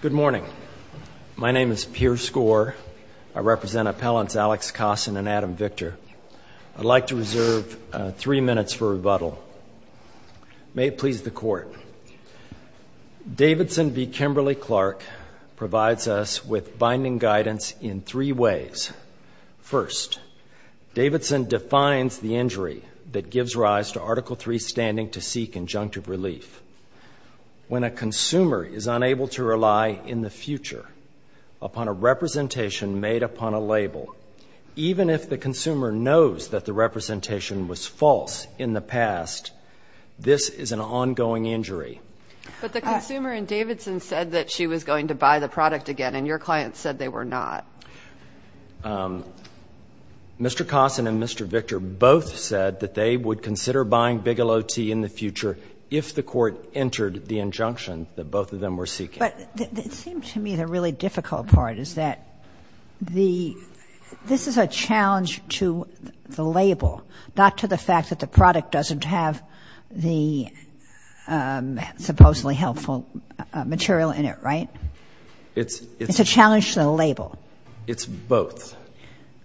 Good morning. My name is Pierce Gore. I represent appellants Alex Kossin and Adam Victor. I'd like to reserve three minutes for rebuttal. May it please the Court. Davidson v. Kimberly-Clark provides us with binding guidance in three ways. First, Davidson defines the injury that gives rise to Article III standing to seek injunctive relief. When a consumer is unable to rely in the future upon a representation made upon a label, even if the consumer knows that the representation was false in the past, this is an ongoing injury. But the consumer in Davidson said that she was going to buy the product again, and your client said they were not. Mr. Kossin and Mr. Victor both said that they would consider buying Bigelow Tea in the future if the Court entered the injunction that both of them were seeking. But it seems to me the really difficult part is that the — this is a challenge to the label, not to the fact that the product doesn't have the supposedly helpful material in it, right? It's — It's a challenge to the label. It's both.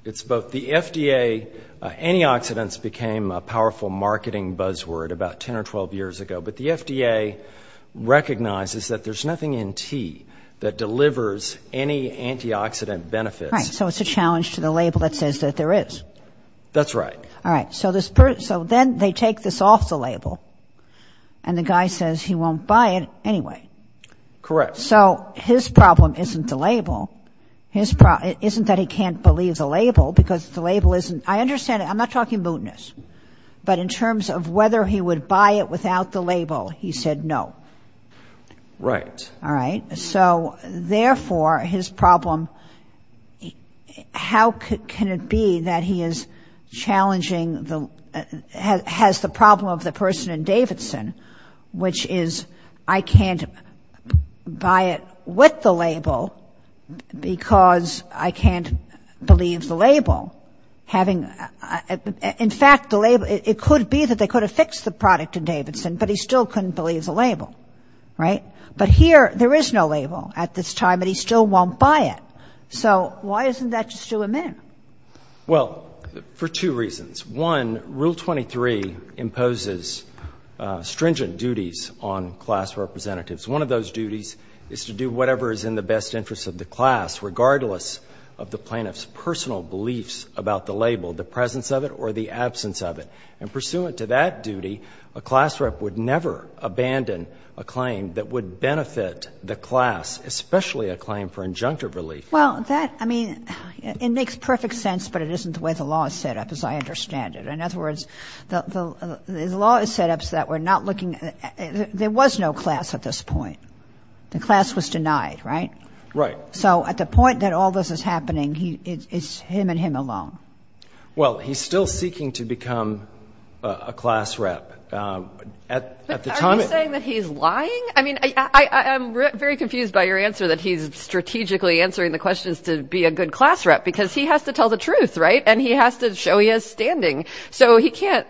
It's both. The FDA — antioxidants became a powerful marketing buzzword about 10 or 12 years ago, but the FDA recognizes that there's nothing in tea that delivers any antioxidant benefits. Right. So it's a challenge to the label that says that there is. That's right. All right. So then they take this off the label, and the guy says he won't buy it anyway. Correct. So his problem isn't the label. His — it isn't that he can't believe the label because the label isn't — I understand. I'm not talking mootness. But in terms of whether he would buy it without the label, he said no. Right. All right. So, therefore, his problem — how can it be that he is challenging the — which is, I can't buy it with the label because I can't believe the label. Having — in fact, the label — it could be that they could have fixed the product in Davidson, but he still couldn't believe the label. Right? But here, there is no label at this time, and he still won't buy it. So why isn't that just too imminent? Well, for two reasons. One, Rule 23 imposes stringent duties on class representatives. One of those duties is to do whatever is in the best interest of the class, regardless of the plaintiff's personal beliefs about the label, the presence of it or the absence of it. And pursuant to that duty, a class rep would never abandon a claim that would benefit the class, especially a claim for injunctive relief. Well, that — I mean, it makes perfect sense, but it isn't the way the law is set up, as I understand it. In other words, the law is set up so that we're not looking — there was no class at this point. The class was denied. Right? Right. So at the point that all this is happening, it's him and him alone. Well, he's still seeking to become a class rep. But are you saying that he's lying? I mean, I'm very confused by your answer that he's strategically answering the questions to be a good class rep, because he has to tell the truth, right? And he has to show he has standing. So he can't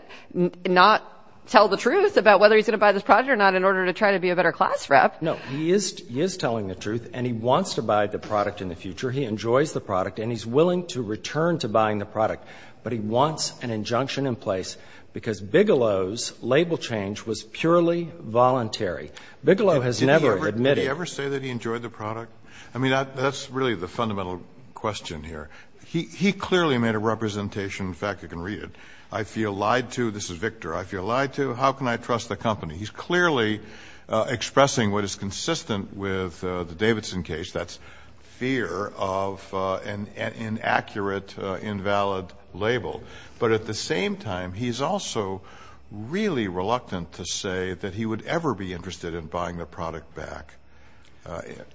not tell the truth about whether he's going to buy this product or not in order to try to be a better class rep. No. He is telling the truth, and he wants to buy the product in the future. He enjoys the product, and he's willing to return to buying the product. But he wants an injunction in place because Bigelow's label change was purely voluntary. Bigelow has never admitted — Did he ever say that he enjoyed the product? I mean, that's really the fundamental question here. He clearly made a representation. In fact, you can read it. I feel lied to. This is Victor. I feel lied to. How can I trust the company? He's clearly expressing what is consistent with the Davidson case. That's fear of an inaccurate, invalid label. But at the same time, he's also really reluctant to say that he would ever be interested in buying the product back.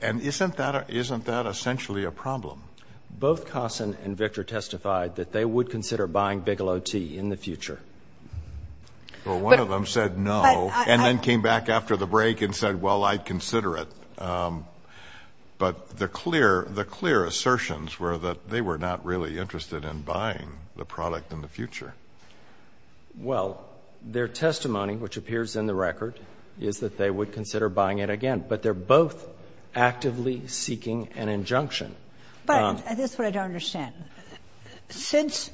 And isn't that essentially a problem? Both Carson and Victor testified that they would consider buying Bigelow Tea in the future. Well, one of them said no and then came back after the break and said, well, I'd consider it. But the clear — the clear assertions were that they were not really interested in buying the product in the future. Well, their testimony, which appears in the record, is that they would consider buying it again. But they're both actively seeking an injunction. But this is what I don't understand. Since,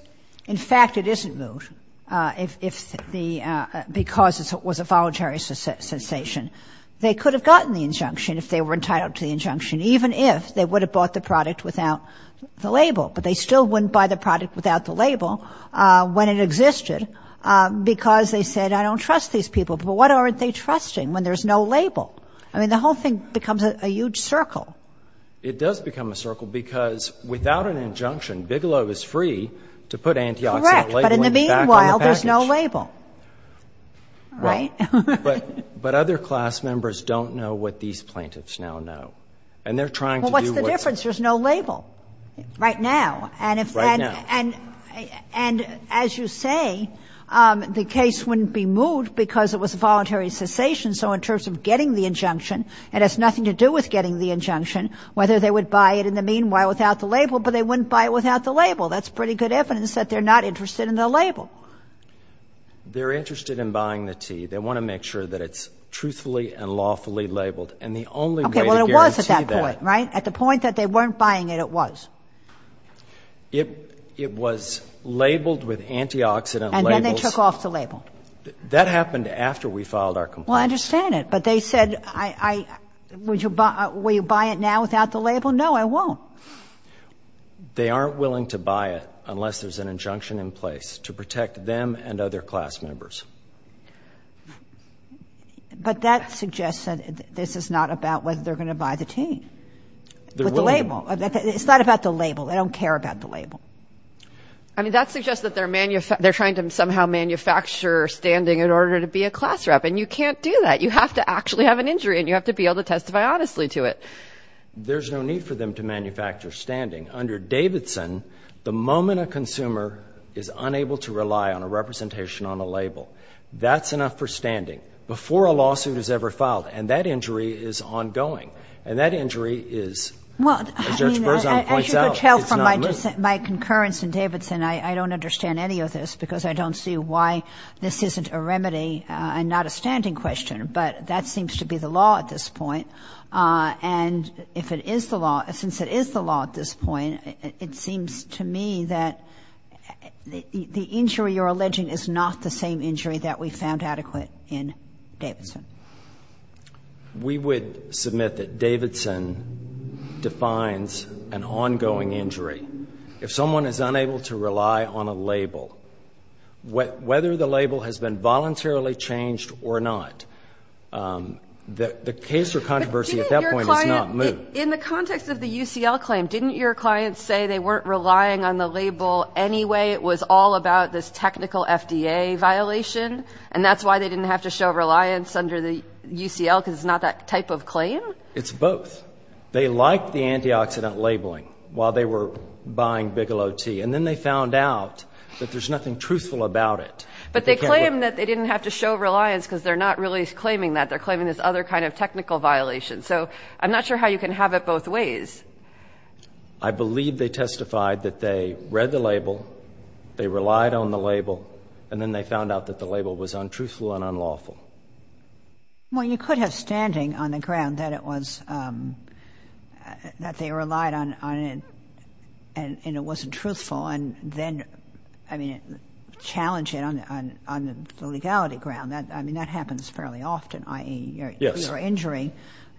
in fact, it isn't moot, if the — because it was a voluntary cessation, they could have gotten the injunction if they were entitled to the injunction, even if they would have bought the product without the label. But they still wouldn't buy the product without the label when it existed because they said, I don't trust these people. But what aren't they trusting when there's no label? I mean, the whole thing becomes a huge circle. It does become a circle because without an injunction, Bigelow is free to put antioxidant labeling back on the package. Correct. But in the meanwhile, there's no label. Right? But other class members don't know what these plaintiffs now know. And they're trying to do what's — Well, what's the difference? There's no label right now. Right now. And as you say, the case wouldn't be moot because it was a voluntary cessation. So in terms of getting the injunction, it has nothing to do with getting the injunction, whether they would buy it in the meanwhile without the label, but they wouldn't buy it without the label. That's pretty good evidence that they're not interested in the label. They're interested in buying the tea. They want to make sure that it's truthfully and lawfully labeled. And the only way to guarantee that — Okay. Well, it was at that point, right? At the point that they weren't buying it, it was. It was labeled with antioxidant labels. And then they took off the label. That happened after we filed our complaint. Well, I understand it. But they said, will you buy it now without the label? No, I won't. They aren't willing to buy it unless there's an injunction in place to protect them and other class members. But that suggests that this is not about whether they're going to buy the tea. With the label. It's not about the label. They don't care about the label. I mean, that suggests that they're trying to somehow manufacture standing in order to be a class rep. And you can't do that. You have to actually have an injury, and you have to be able to testify honestly to it. There's no need for them to manufacture standing. Under Davidson, the moment a consumer is unable to rely on a representation on a label, that's enough for standing. Before a lawsuit is ever filed. And that injury is ongoing. And that injury is, as Judge Berzon points out, it's not a mistake. Well, as you can tell from my concurrence in Davidson, I don't understand any of this because I don't see why this isn't a remedy and not a standing question. But that seems to be the law at this point. And if it is the law, since it is the law at this point, it seems to me that the injury you're alleging is not the same injury that we found adequate in Davidson. We would submit that Davidson defines an ongoing injury. If someone is unable to rely on a label, whether the label has been voluntarily changed or not, the case or controversy at that point is not moved. In the context of the UCL claim, didn't your clients say they weren't relying on the label anyway? It was all about this technical FDA violation. And that's why they didn't have to show reliance under the UCL because it's not that type of claim? It's both. They liked the antioxidant labeling while they were buying Bigelow tea. And then they found out that there's nothing truthful about it. But they claim that they didn't have to show reliance because they're not really claiming that. They're claiming this other kind of technical violation. So I'm not sure how you can have it both ways. I believe they testified that they read the label, they relied on the label, and then they found out that the label was untruthful and unlawful. Well, you could have standing on the ground that it was – that they relied on it and it wasn't truthful and then, I mean, challenge it on the legality ground. I mean, that happens fairly often, i.e., your injury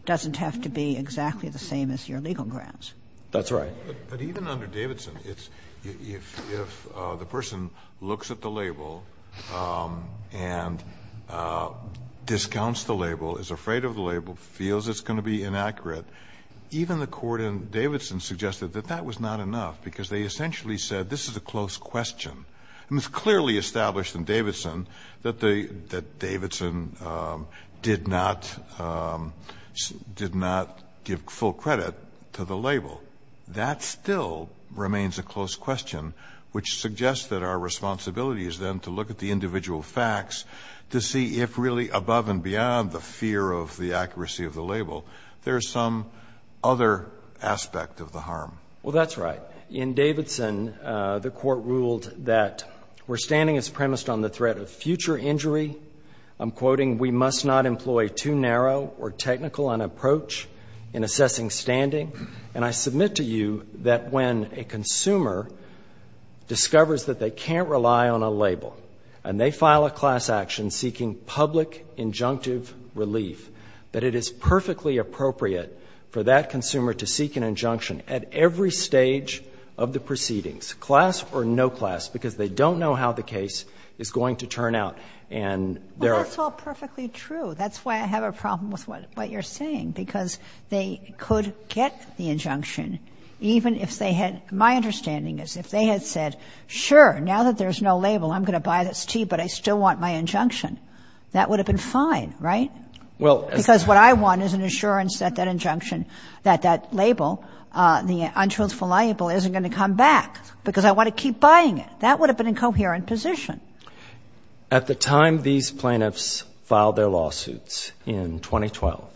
doesn't have to be exactly the same as your legal grounds. That's right. But even under Davidson, if the person looks at the label and discounts the label, is afraid of the label, feels it's going to be inaccurate, even the court in Davidson suggested that that was not enough because they essentially said this is a close question. And it's clearly established in Davidson that Davidson did not give full credit to the label. That still remains a close question, which suggests that our responsibility is then to look at the individual facts to see if really above and beyond the fear of the accuracy of the label, there is some other aspect of the harm. Well, that's right. In Davidson, the court ruled that we're standing as premised on the threat of future injury. I'm quoting, we must not employ too narrow or technical an approach in assessing standing. And I submit to you that when a consumer discovers that they can't rely on a label and they file a class action seeking public injunctive relief, that it is perfectly appropriate for that consumer to seek an injunction at every stage of the proceedings, class or no class, because they don't know how the case is going to turn out. Well, that's all perfectly true. That's why I have a problem with what you're saying, because they could get the injunction even if they had, my understanding is if they had said, sure, now that there's no label, I'm going to buy this tea, but I still want my injunction. That would have been fine, right? Because what I want is an assurance that that injunction, that that label, the untruthful label isn't going to come back because I want to keep buying it. That would have been a coherent position. At the time these plaintiffs filed their lawsuits in 2012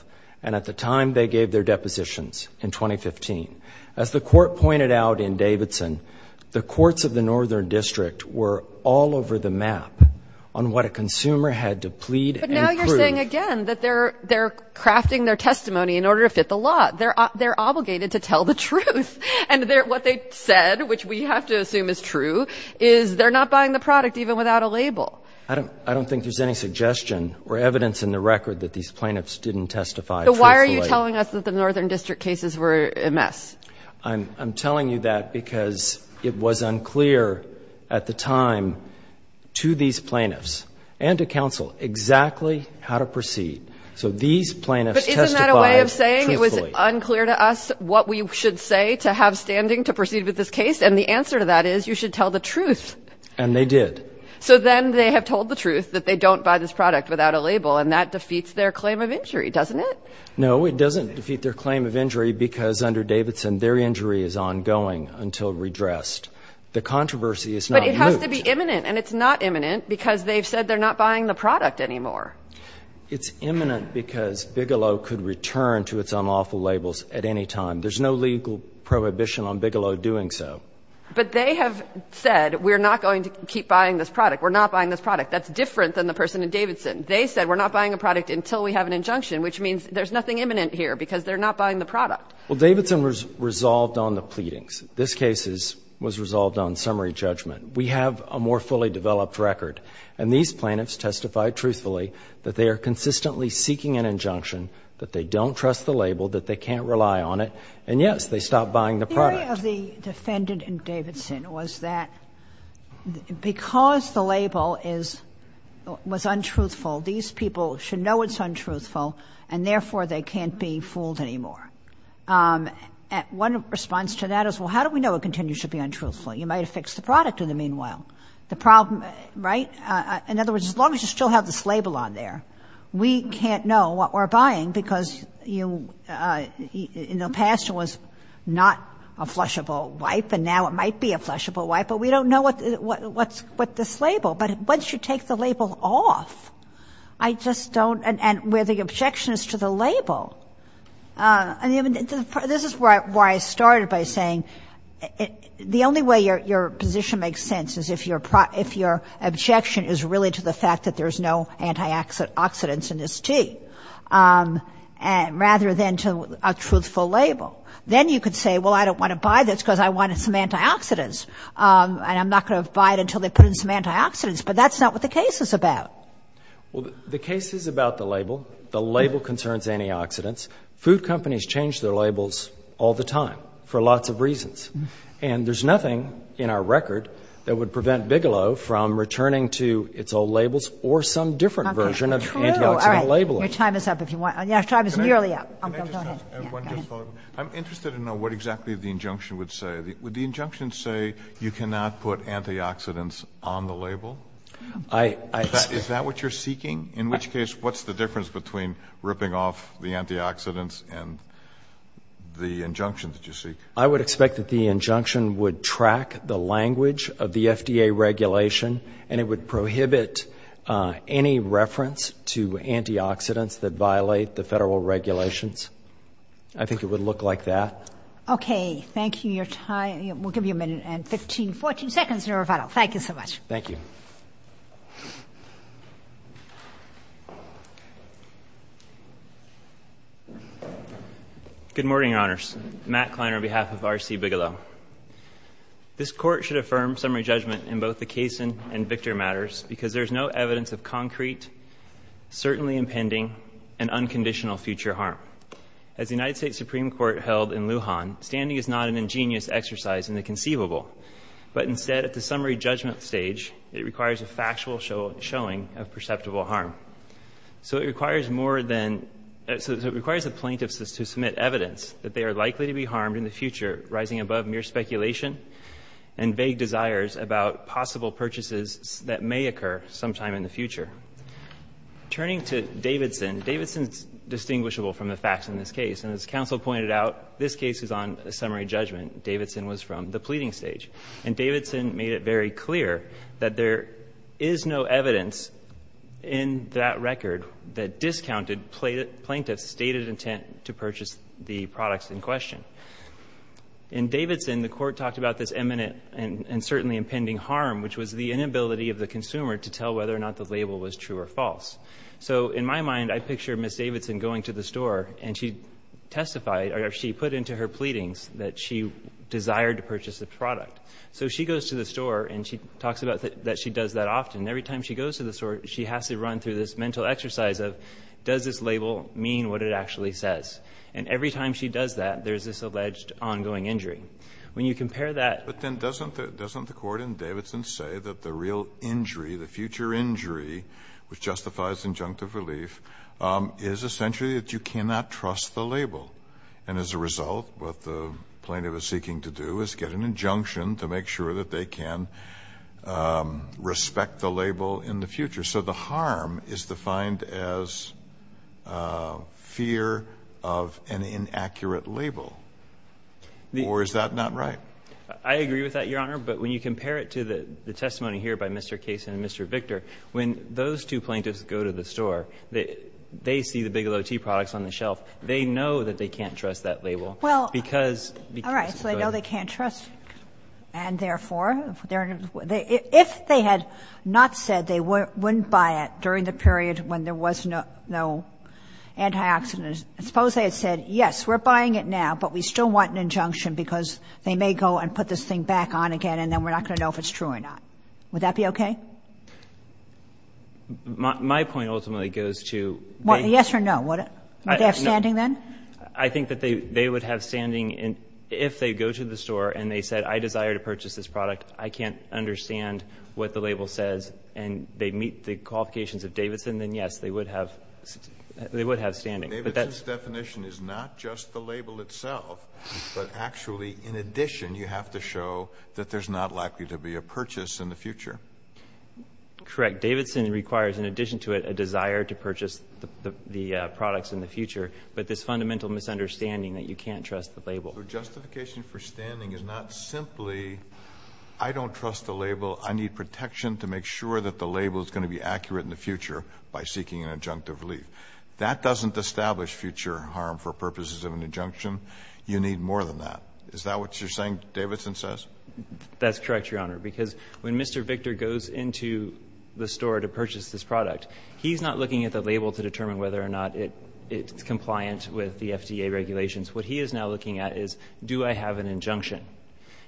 and at the time they gave their depositions in 2015, as the court pointed out in Davidson, the courts of the Northern District were all over the map on what a consumer had to plead and prove. You're saying again that they're crafting their testimony in order to fit the law. They're obligated to tell the truth. And what they said, which we have to assume is true, is they're not buying the product even without a label. I don't think there's any suggestion or evidence in the record that these plaintiffs didn't testify. So why are you telling us that the Northern District cases were a mess? I'm telling you that because it was unclear at the time to these plaintiffs and to counsel exactly how to proceed. So these plaintiffs testified truthfully. But isn't that a way of saying it was unclear to us what we should say to have standing to proceed with this case? And the answer to that is you should tell the truth. And they did. So then they have told the truth, that they don't buy this product without a label, and that defeats their claim of injury, doesn't it? No, it doesn't defeat their claim of injury because under Davidson, their injury is ongoing until redressed. The controversy is not moot. It has to be imminent. And it's not imminent because they've said they're not buying the product anymore. It's imminent because Bigelow could return to its unlawful labels at any time. There's no legal prohibition on Bigelow doing so. But they have said we're not going to keep buying this product. We're not buying this product. That's different than the person in Davidson. They said we're not buying a product until we have an injunction, which means there's nothing imminent here because they're not buying the product. Well, Davidson was resolved on the pleadings. This case was resolved on summary judgment. We have a more fully developed record. And these plaintiffs testified truthfully that they are consistently seeking an injunction, that they don't trust the label, that they can't rely on it. And, yes, they stopped buying the product. Kagan. The theory of the defendant in Davidson was that because the label is, was untruthful, these people should know it's untruthful, and therefore they can't be fooled anymore. One response to that is, well, how do we know it continues to be untruthful? You might have fixed the product in the meanwhile. The problem, right, in other words, as long as you still have this label on there, we can't know what we're buying because, you know, in the past it was not a flushable wipe, and now it might be a flushable wipe, but we don't know what's with this label. But once you take the label off, I just don't, and where the objection is to the label. I mean, this is where I started by saying the only way your position makes sense is if your objection is really to the fact that there's no antioxidants in this tea, rather than to a truthful label. Then you could say, well, I don't want to buy this because I want some antioxidants, and I'm not going to buy it until they put in some antioxidants. But that's not what the case is about. Well, the case is about the label. The label concerns antioxidants. Food companies change their labels all the time for lots of reasons, and there's nothing in our record that would prevent Bigelow from returning to its old labels or some different version of the antioxidant labeling. Your time is up if you want. Your time is nearly up. I'm interested to know what exactly the injunction would say. Would the injunction say you cannot put antioxidants on the label? Is that what you're seeking? In which case, what's the difference between ripping off the antioxidants and the injunction that you seek? I would expect that the injunction would track the language of the FDA regulation, and it would prohibit any reference to antioxidants that violate the federal regulations. I think it would look like that. Okay. Thank you. We'll give you a minute and 15, 14 seconds, Mr. Revital. Thank you so much. Thank you. Good morning, Your Honors. Matt Kleiner on behalf of R.C. Bigelow. This Court should affirm summary judgment in both the case and victor matters because there is no evidence of concrete, certainly impending, and unconditional future harm. As the United States Supreme Court held in Lujan, standing is not an ingenious exercise in the conceivable, but instead at the summary judgment stage, it requires a factual showing of perceptible harm. So it requires the plaintiffs to submit evidence that they are likely to be harmed in the future, rising above mere speculation and vague desires about possible purchases that may occur sometime in the future. Turning to Davidson, Davidson is distinguishable from the facts in this case, and as counsel pointed out, this case is on a summary judgment. Davidson was from the pleading stage. And Davidson made it very clear that there is no evidence in that record that discounted plaintiffs' stated intent to purchase the products in question. In Davidson, the Court talked about this imminent and certainly impending harm, which was the inability of the consumer to tell whether or not the label was true or false. So in my mind, I picture Ms. Davidson going to the store, and she testified or she put into her pleadings that she desired to purchase the product. So she goes to the store, and she talks about that she does that often. Every time she goes to the store, she has to run through this mental exercise of, does this label mean what it actually says? And every time she does that, there's this alleged ongoing injury. When you compare that to the real injury, the future injury, which justifies injunctive relief, is essentially that you cannot trust the label. And as a result, what the plaintiff is seeking to do is get an injunction to make sure that they can respect the label in the future. So the harm is defined as fear of an inaccurate label. Or is that not right? I agree with that, Your Honor. But when you compare it to the testimony here by Mr. Case and Mr. Victor, when those two plaintiffs go to the store, they see the Bigelow Tea products on the shelf. They know that they can't trust that label. Well, all right. So they know they can't trust. And therefore, if they had not said they wouldn't buy it during the period when there was no antioxidant, suppose they had said, yes, we're buying it now, but we still want an injunction because they may go and put this thing back on again, and then we're not going to know if it's true or not. Would that be okay? My point ultimately goes to they Yes or no? Would they have standing then? I think that they would have standing if they go to the store and they said, I desire to purchase this product. I can't understand what the label says. And they meet the qualifications of Davidson, then, yes, they would have standing. But that's Davidson's definition is not just the label itself, but actually, in addition, you have to show that there's not likely to be a purchase in the future. Correct. Davidson requires, in addition to it, a desire to purchase the products in the future, but this fundamental misunderstanding that you can't trust the label. So justification for standing is not simply, I don't trust the label, I need protection to make sure that the label is going to be accurate in the future by seeking an injunctive relief. That doesn't establish future harm for purposes of an injunction. You need more than that. Is that what you're saying Davidson says? That's correct, Your Honor. Because when Mr. Victor goes into the store to purchase this product, he's not looking at the label to determine whether or not it's compliant with the FDA regulations. What he is now looking at is, do I have an injunction?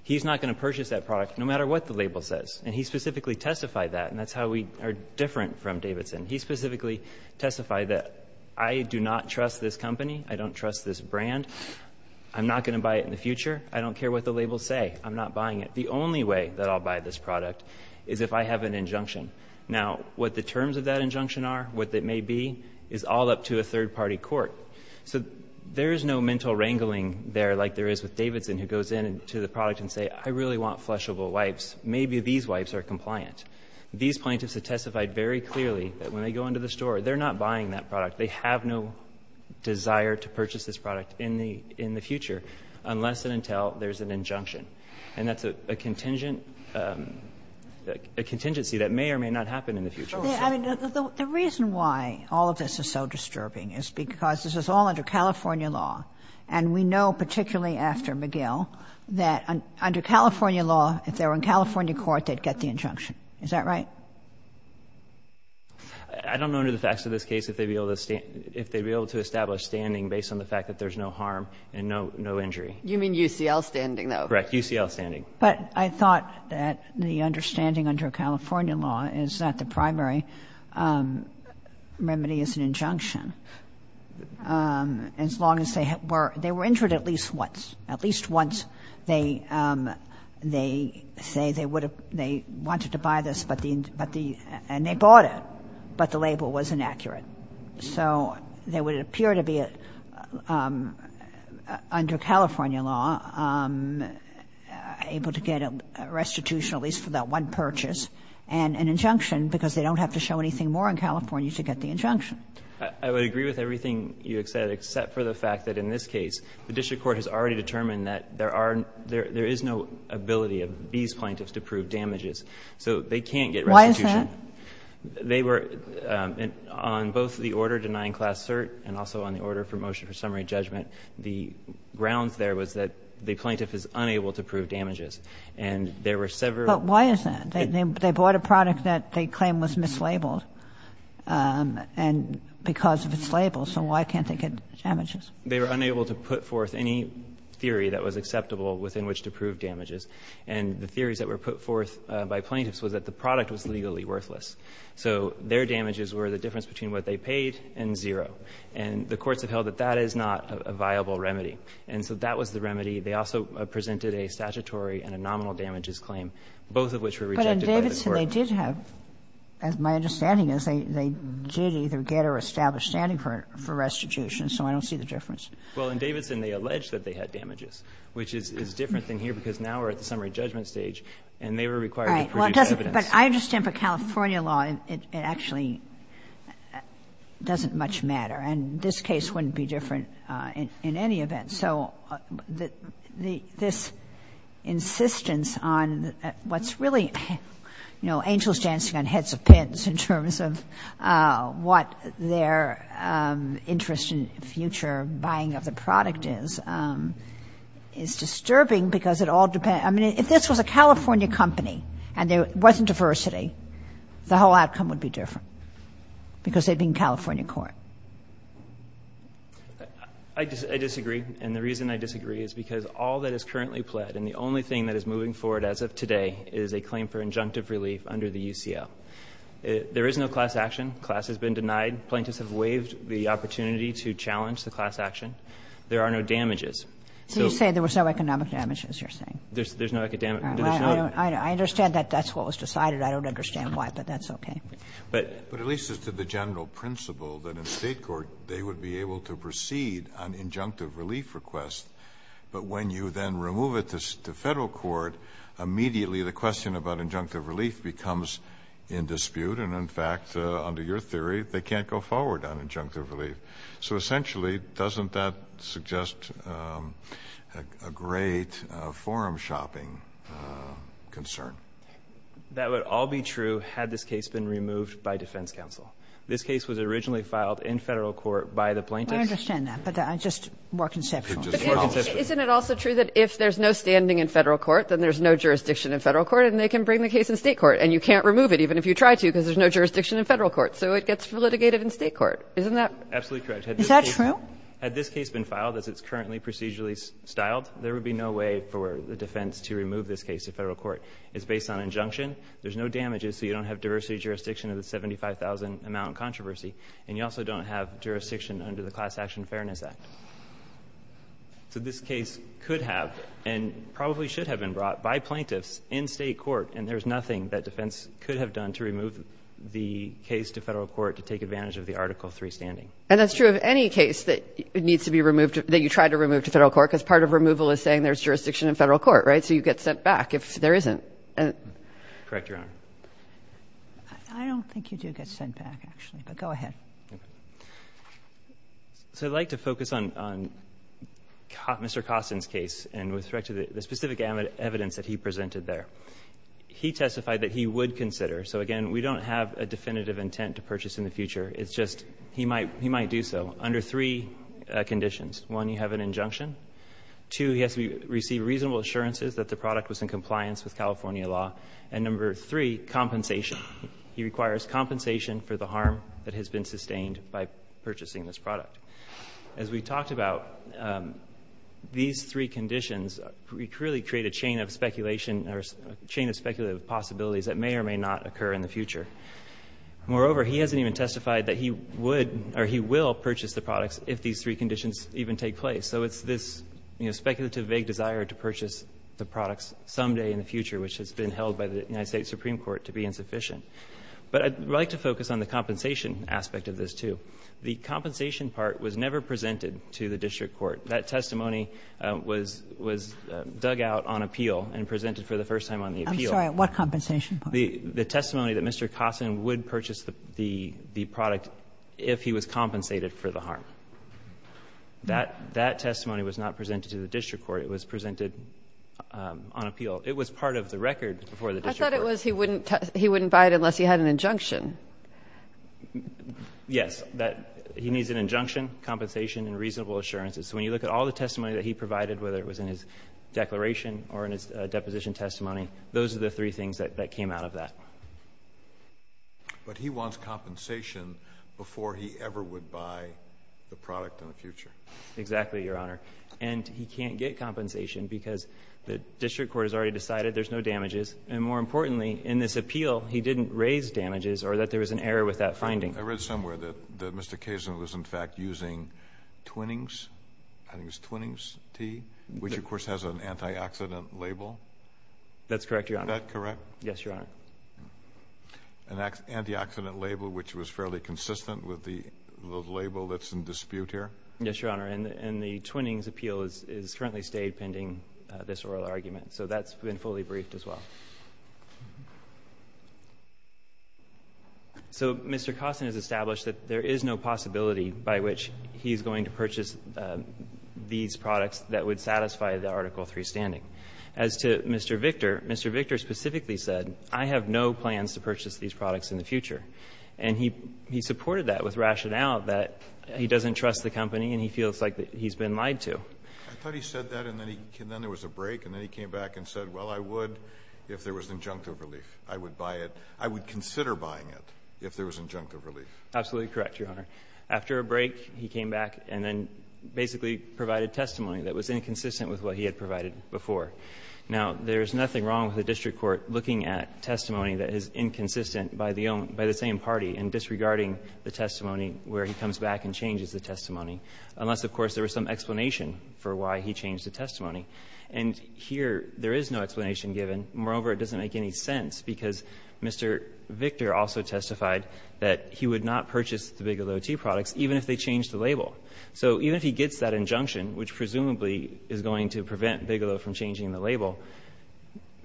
He's not going to purchase that product no matter what the label says. And he specifically testified that, and that's how we are different from Davidson. He specifically testified that I do not trust this company. I don't trust this brand. I'm not going to buy it in the future. I don't care what the labels say. I'm not buying it. The only way that I'll buy this product is if I have an injunction. Now, what the terms of that injunction are, what they may be, is all up to a third-party court. So there is no mental wrangling there like there is with Davidson who goes into the product and says, I really want flushable wipes. Maybe these wipes are compliant. These plaintiffs have testified very clearly that when they go into the store, they're not buying that product. They have no desire to purchase this product in the future unless and until there's an injunction. And that's a contingency that may or may not happen in the future. The reason why all of this is so disturbing is because this is all under California law. And we know, particularly after McGill, that under California law, if they were in California court, they'd get the injunction. Is that right? I don't know, under the facts of this case, if they'd be able to establish standing based on the fact that there's no harm and no injury. You mean UCL standing, though? Correct, UCL standing. But I thought that the understanding under California law is that the primary remedy is an injunction. As long as they were injured at least once. At least once they say they wanted to buy this and they bought it, but the label was inaccurate. So they would appear to be, under California law, able to get a restitution at least for that one purchase and an injunction, because they don't have to show anything more in California to get the injunction. I would agree with everything you said, except for the fact that in this case, the district court has already determined that there is no ability of these plaintiffs So they can't get restitution. Why is that? They were, on both the order denying class cert and also on the order for motion for summary judgment, the grounds there was that the plaintiff is unable to prove damages. And there were several But why is that? They bought a product that they claim was mislabeled because of its label. So why can't they get damages? They were unable to put forth any theory that was acceptable within which to prove damages. And the theories that were put forth by plaintiffs was that the product was legally worthless. So their damages were the difference between what they paid and zero. And the courts have held that that is not a viable remedy. And so that was the remedy. They also presented a statutory and a nominal damages claim, both of which were rejected by the court. But in Davidson, they did have, as my understanding is, they did either get or establish standing for restitution. So I don't see the difference. Well, in Davidson, they allege that they had damages, which is different than here because now we're at the summary judgment stage. And they were required to produce evidence. But I understand for California law, it actually doesn't much matter. And this case wouldn't be different in any event. So this insistence on what's really, you know, angels dancing on heads of pens in terms of what their interest in future buying of the product is, is disturbing because it all depends. I mean, if this was a California company and there wasn't diversity, the whole outcome would be different because they'd be in California court. I disagree. And the reason I disagree is because all that is currently pled and the only thing that is moving forward as of today is a claim for injunctive relief under the UCL. There is no class action. Class has been denied. Plaintiffs have waived the opportunity to challenge the class action. There are no damages. So you say there was no economic damages, you're saying? There's no economic damages. I understand that that's what was decided. I don't understand why. But that's okay. But at least as to the general principle that in State court, they would be able to proceed on injunctive relief requests. But when you then remove it to Federal court, immediately the question about injunctive relief becomes in dispute. And in fact, under your theory, they can't go forward on injunctive relief. So essentially, doesn't that suggest a great forum shopping concern? That would all be true had this case been removed by defense counsel. This case was originally filed in Federal court by the plaintiffs. I understand that. But just more conceptual. Isn't it also true that if there's no standing in Federal court, then there's no case in State court and you can't remove it even if you try to because there's no jurisdiction in Federal court. So it gets litigated in State court. Isn't that? Absolutely correct. Is that true? Had this case been filed as it's currently procedurally styled, there would be no way for the defense to remove this case to Federal court. It's based on injunction. There's no damages. So you don't have diversity jurisdiction of the 75,000 amount controversy. And you also don't have jurisdiction under the Class Action Fairness Act. So this case could have and probably should have been brought by plaintiffs in State court and there's nothing that defense could have done to remove the case to Federal court to take advantage of the Article III standing. And that's true of any case that needs to be removed, that you tried to remove to Federal court because part of removal is saying there's jurisdiction in Federal court, right? So you get sent back if there isn't. Correct, Your Honor. I don't think you do get sent back, actually. But go ahead. So I'd like to focus on Mr. Costin's case and with respect to the specific evidence that he presented there. He testified that he would consider. So, again, we don't have a definitive intent to purchase in the future. It's just he might do so under three conditions. One, you have an injunction. Two, he has to receive reasonable assurances that the product was in compliance with California law. And number three, compensation. He requires compensation for the harm that has been sustained by purchasing this product. As we talked about, these three conditions really create a chain of speculation or a chain of speculative possibilities that may or may not occur in the future. Moreover, he hasn't even testified that he would or he will purchase the products if these three conditions even take place. So it's this speculative, vague desire to purchase the products someday in the future, which has been held by the United States Supreme Court to be insufficient. But I'd like to focus on the compensation aspect of this, too. The compensation part was never presented to the district court. That testimony was dug out on appeal and presented for the first time on the appeal. I'm sorry. What compensation part? The testimony that Mr. Cosson would purchase the product if he was compensated for the harm. That testimony was not presented to the district court. It was presented on appeal. It was part of the record before the district court. I thought it was he wouldn't buy it unless he had an injunction. Yes. He needs an injunction, compensation, and reasonable assurances. So when you look at all the testimony that he provided, whether it was in his declaration or in his deposition testimony, those are the three things that came out of that. But he wants compensation before he ever would buy the product in the future. Exactly, Your Honor. And he can't get compensation because the district court has already decided there's no damages. And more importantly, in this appeal, he didn't raise damages or that there was an error with that finding. I read somewhere that Mr. Cosson was, in fact, using Twinnings. I think it was Twinnings tea, which, of course, has an antioxidant label. That's correct, Your Honor. Is that correct? Yes, Your Honor. An antioxidant label which was fairly consistent with the label that's in dispute here? Yes, Your Honor. And the Twinnings appeal is currently stayed pending this oral argument. So that's been fully briefed as well. So Mr. Cosson has established that there is no possibility by which he's going to purchase these products that would satisfy the Article III standing. As to Mr. Victor, Mr. Victor specifically said, I have no plans to purchase these products in the future. And he supported that with rationale that he doesn't trust the company and he feels like he's been lied to. I thought he said that and then there was a break and then he came back and said, well, I would if there was injunctive relief. I would buy it. I would consider buying it if there was injunctive relief. Absolutely correct, Your Honor. After a break, he came back and then basically provided testimony that was inconsistent with what he had provided before. Now, there's nothing wrong with the district court looking at testimony that is inconsistent by the same party and disregarding the testimony where he comes back and changes the testimony, unless, of course, there was some explanation for why he changed the testimony. And here there is no explanation given. Moreover, it doesn't make any sense because Mr. Victor also testified that he would not purchase the Bigelow Tea products even if they changed the label. So even if he gets that injunction, which presumably is going to prevent Bigelow from changing the label,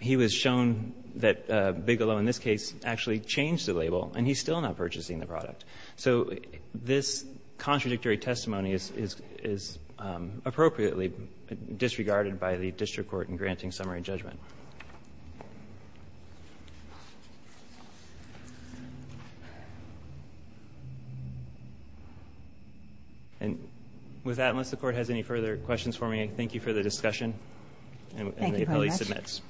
he was shown that Bigelow in this case actually changed the label and he's still not purchasing the product. So this contradictory testimony is appropriately disregarded by the district court in granting summary judgment. And with that, unless the Court has any further questions for me, I thank you for the discussion. Thank you very much. And the attorney submits.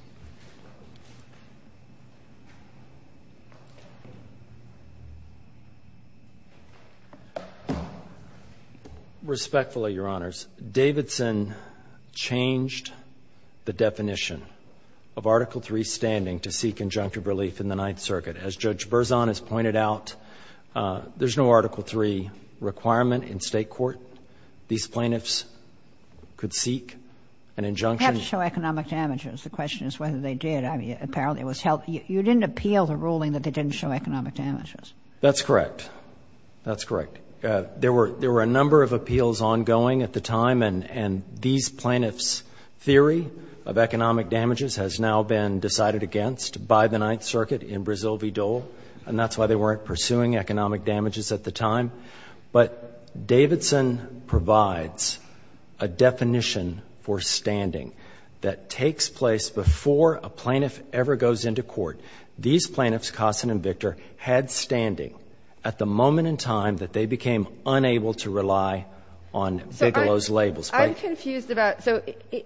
Roberts. Respectfully, Your Honors, Davidson changed the definition of Article III standing to seek injunctive relief in the Ninth Circuit. As Judge Berzon has pointed out, there's no Article III requirement in State court. These plaintiffs could seek an injunction. They have to show economic damages. The question is whether they did. I mean, apparently it was held. You didn't appeal the ruling that they didn't show economic damages. That's correct. That's correct. There were a number of appeals ongoing at the time, and these plaintiffs' theory of economic damages has now been decided against by the Ninth Circuit in Brazil v. Dole, and that's why they weren't pursuing economic damages at the time. But Davidson provides a definition for standing that takes place before a plaintiff ever goes into court. These plaintiffs, Cossin and Victor, had standing at the moment in time that they became unable to rely on Bigelow's labels. I'm confused about — so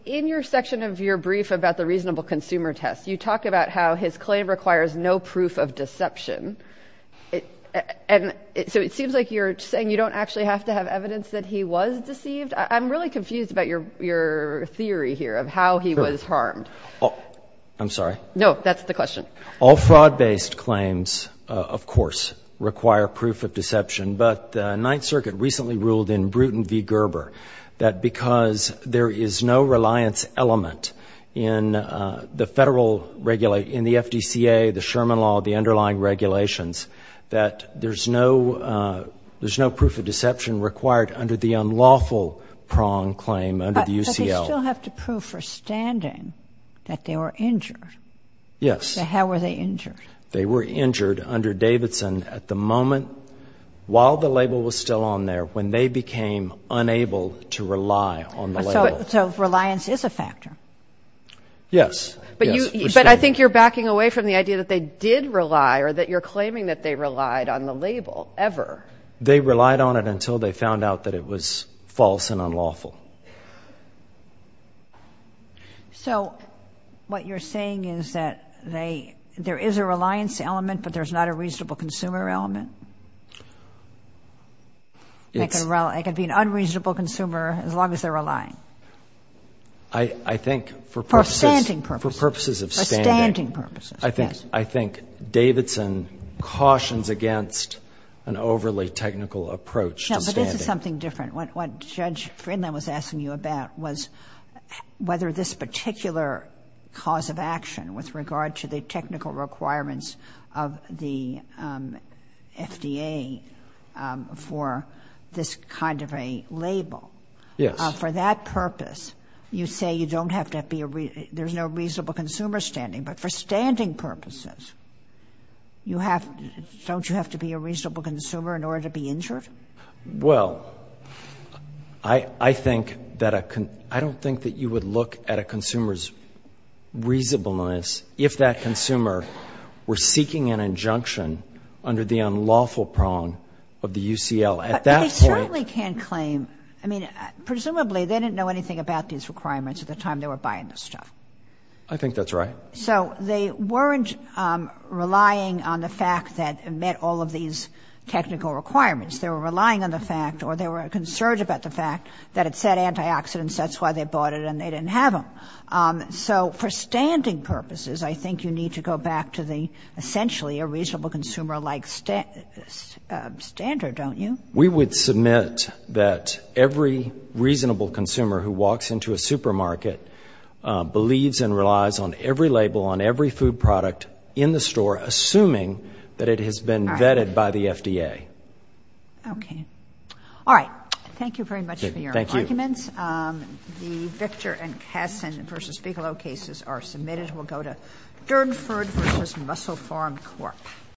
in your section of your brief about the reasonable consumer test, you talk about how his claim requires no proof of deception. So it seems like you're saying you don't actually have to have evidence that he was deceived? I'm really confused about your theory here of how he was harmed. I'm sorry? No, that's the question. All fraud-based claims, of course, require proof of deception, but the Ninth Circuit recently ruled in Bruton v. Gerber that because there is no reliance element in the federal — in the FDCA, the Sherman Law, the underlying regulations, that there's no proof of deception required under the unlawful prong claim under the UCL. But they still have to prove for standing that they were injured. Yes. So how were they injured? They were injured under Davidson at the moment while the label was still on there when they became unable to rely on the label. So reliance is a factor. Yes. But I think you're backing away from the idea that they did rely or that you're claiming that they relied on the label ever. They relied on it until they found out that it was false and unlawful. So what you're saying is that there is a reliance element, but there's not a reasonable consumer element? It could be an unreasonable consumer as long as they're relying. I think for purposes — For standing purposes. For purposes of standing. For standing purposes, yes. I think Davidson cautions against an overly technical approach to standing. Yeah, but this is something different. What Judge Friendlin was asking you about was whether this particular cause of action with regard to the technical requirements of the FDA for this kind of a label. Yes. For that purpose, you say you don't have to be a — there's no reasonable consumer standing. But for standing purposes, you have — don't you have to be a reasonable consumer in order to be injured? Well, I think that a — I don't think that you would look at a consumer's reasonableness if that consumer were seeking an injunction under the unlawful prong of the UCL. At that point — But they certainly can claim — I mean, presumably they didn't know anything about these requirements at the time they were buying this stuff. I think that's right. So they weren't relying on the fact that it met all of these technical requirements. They were relying on the fact or they were concerned about the fact that it said antioxidants, that's why they bought it and they didn't have them. So for standing purposes, I think you need to go back to the essentially a reasonable consumer-like standard, don't you? We would submit that every reasonable consumer who walks into a supermarket believes and relies on every label, on every food product in the store, assuming that it has been vetted by the FDA. Okay. All right. Thank you very much for your arguments. Thank you. The Victor and Kasson v. Figalo cases are submitted. We'll go to Durnford v. Muscle Farm Corp.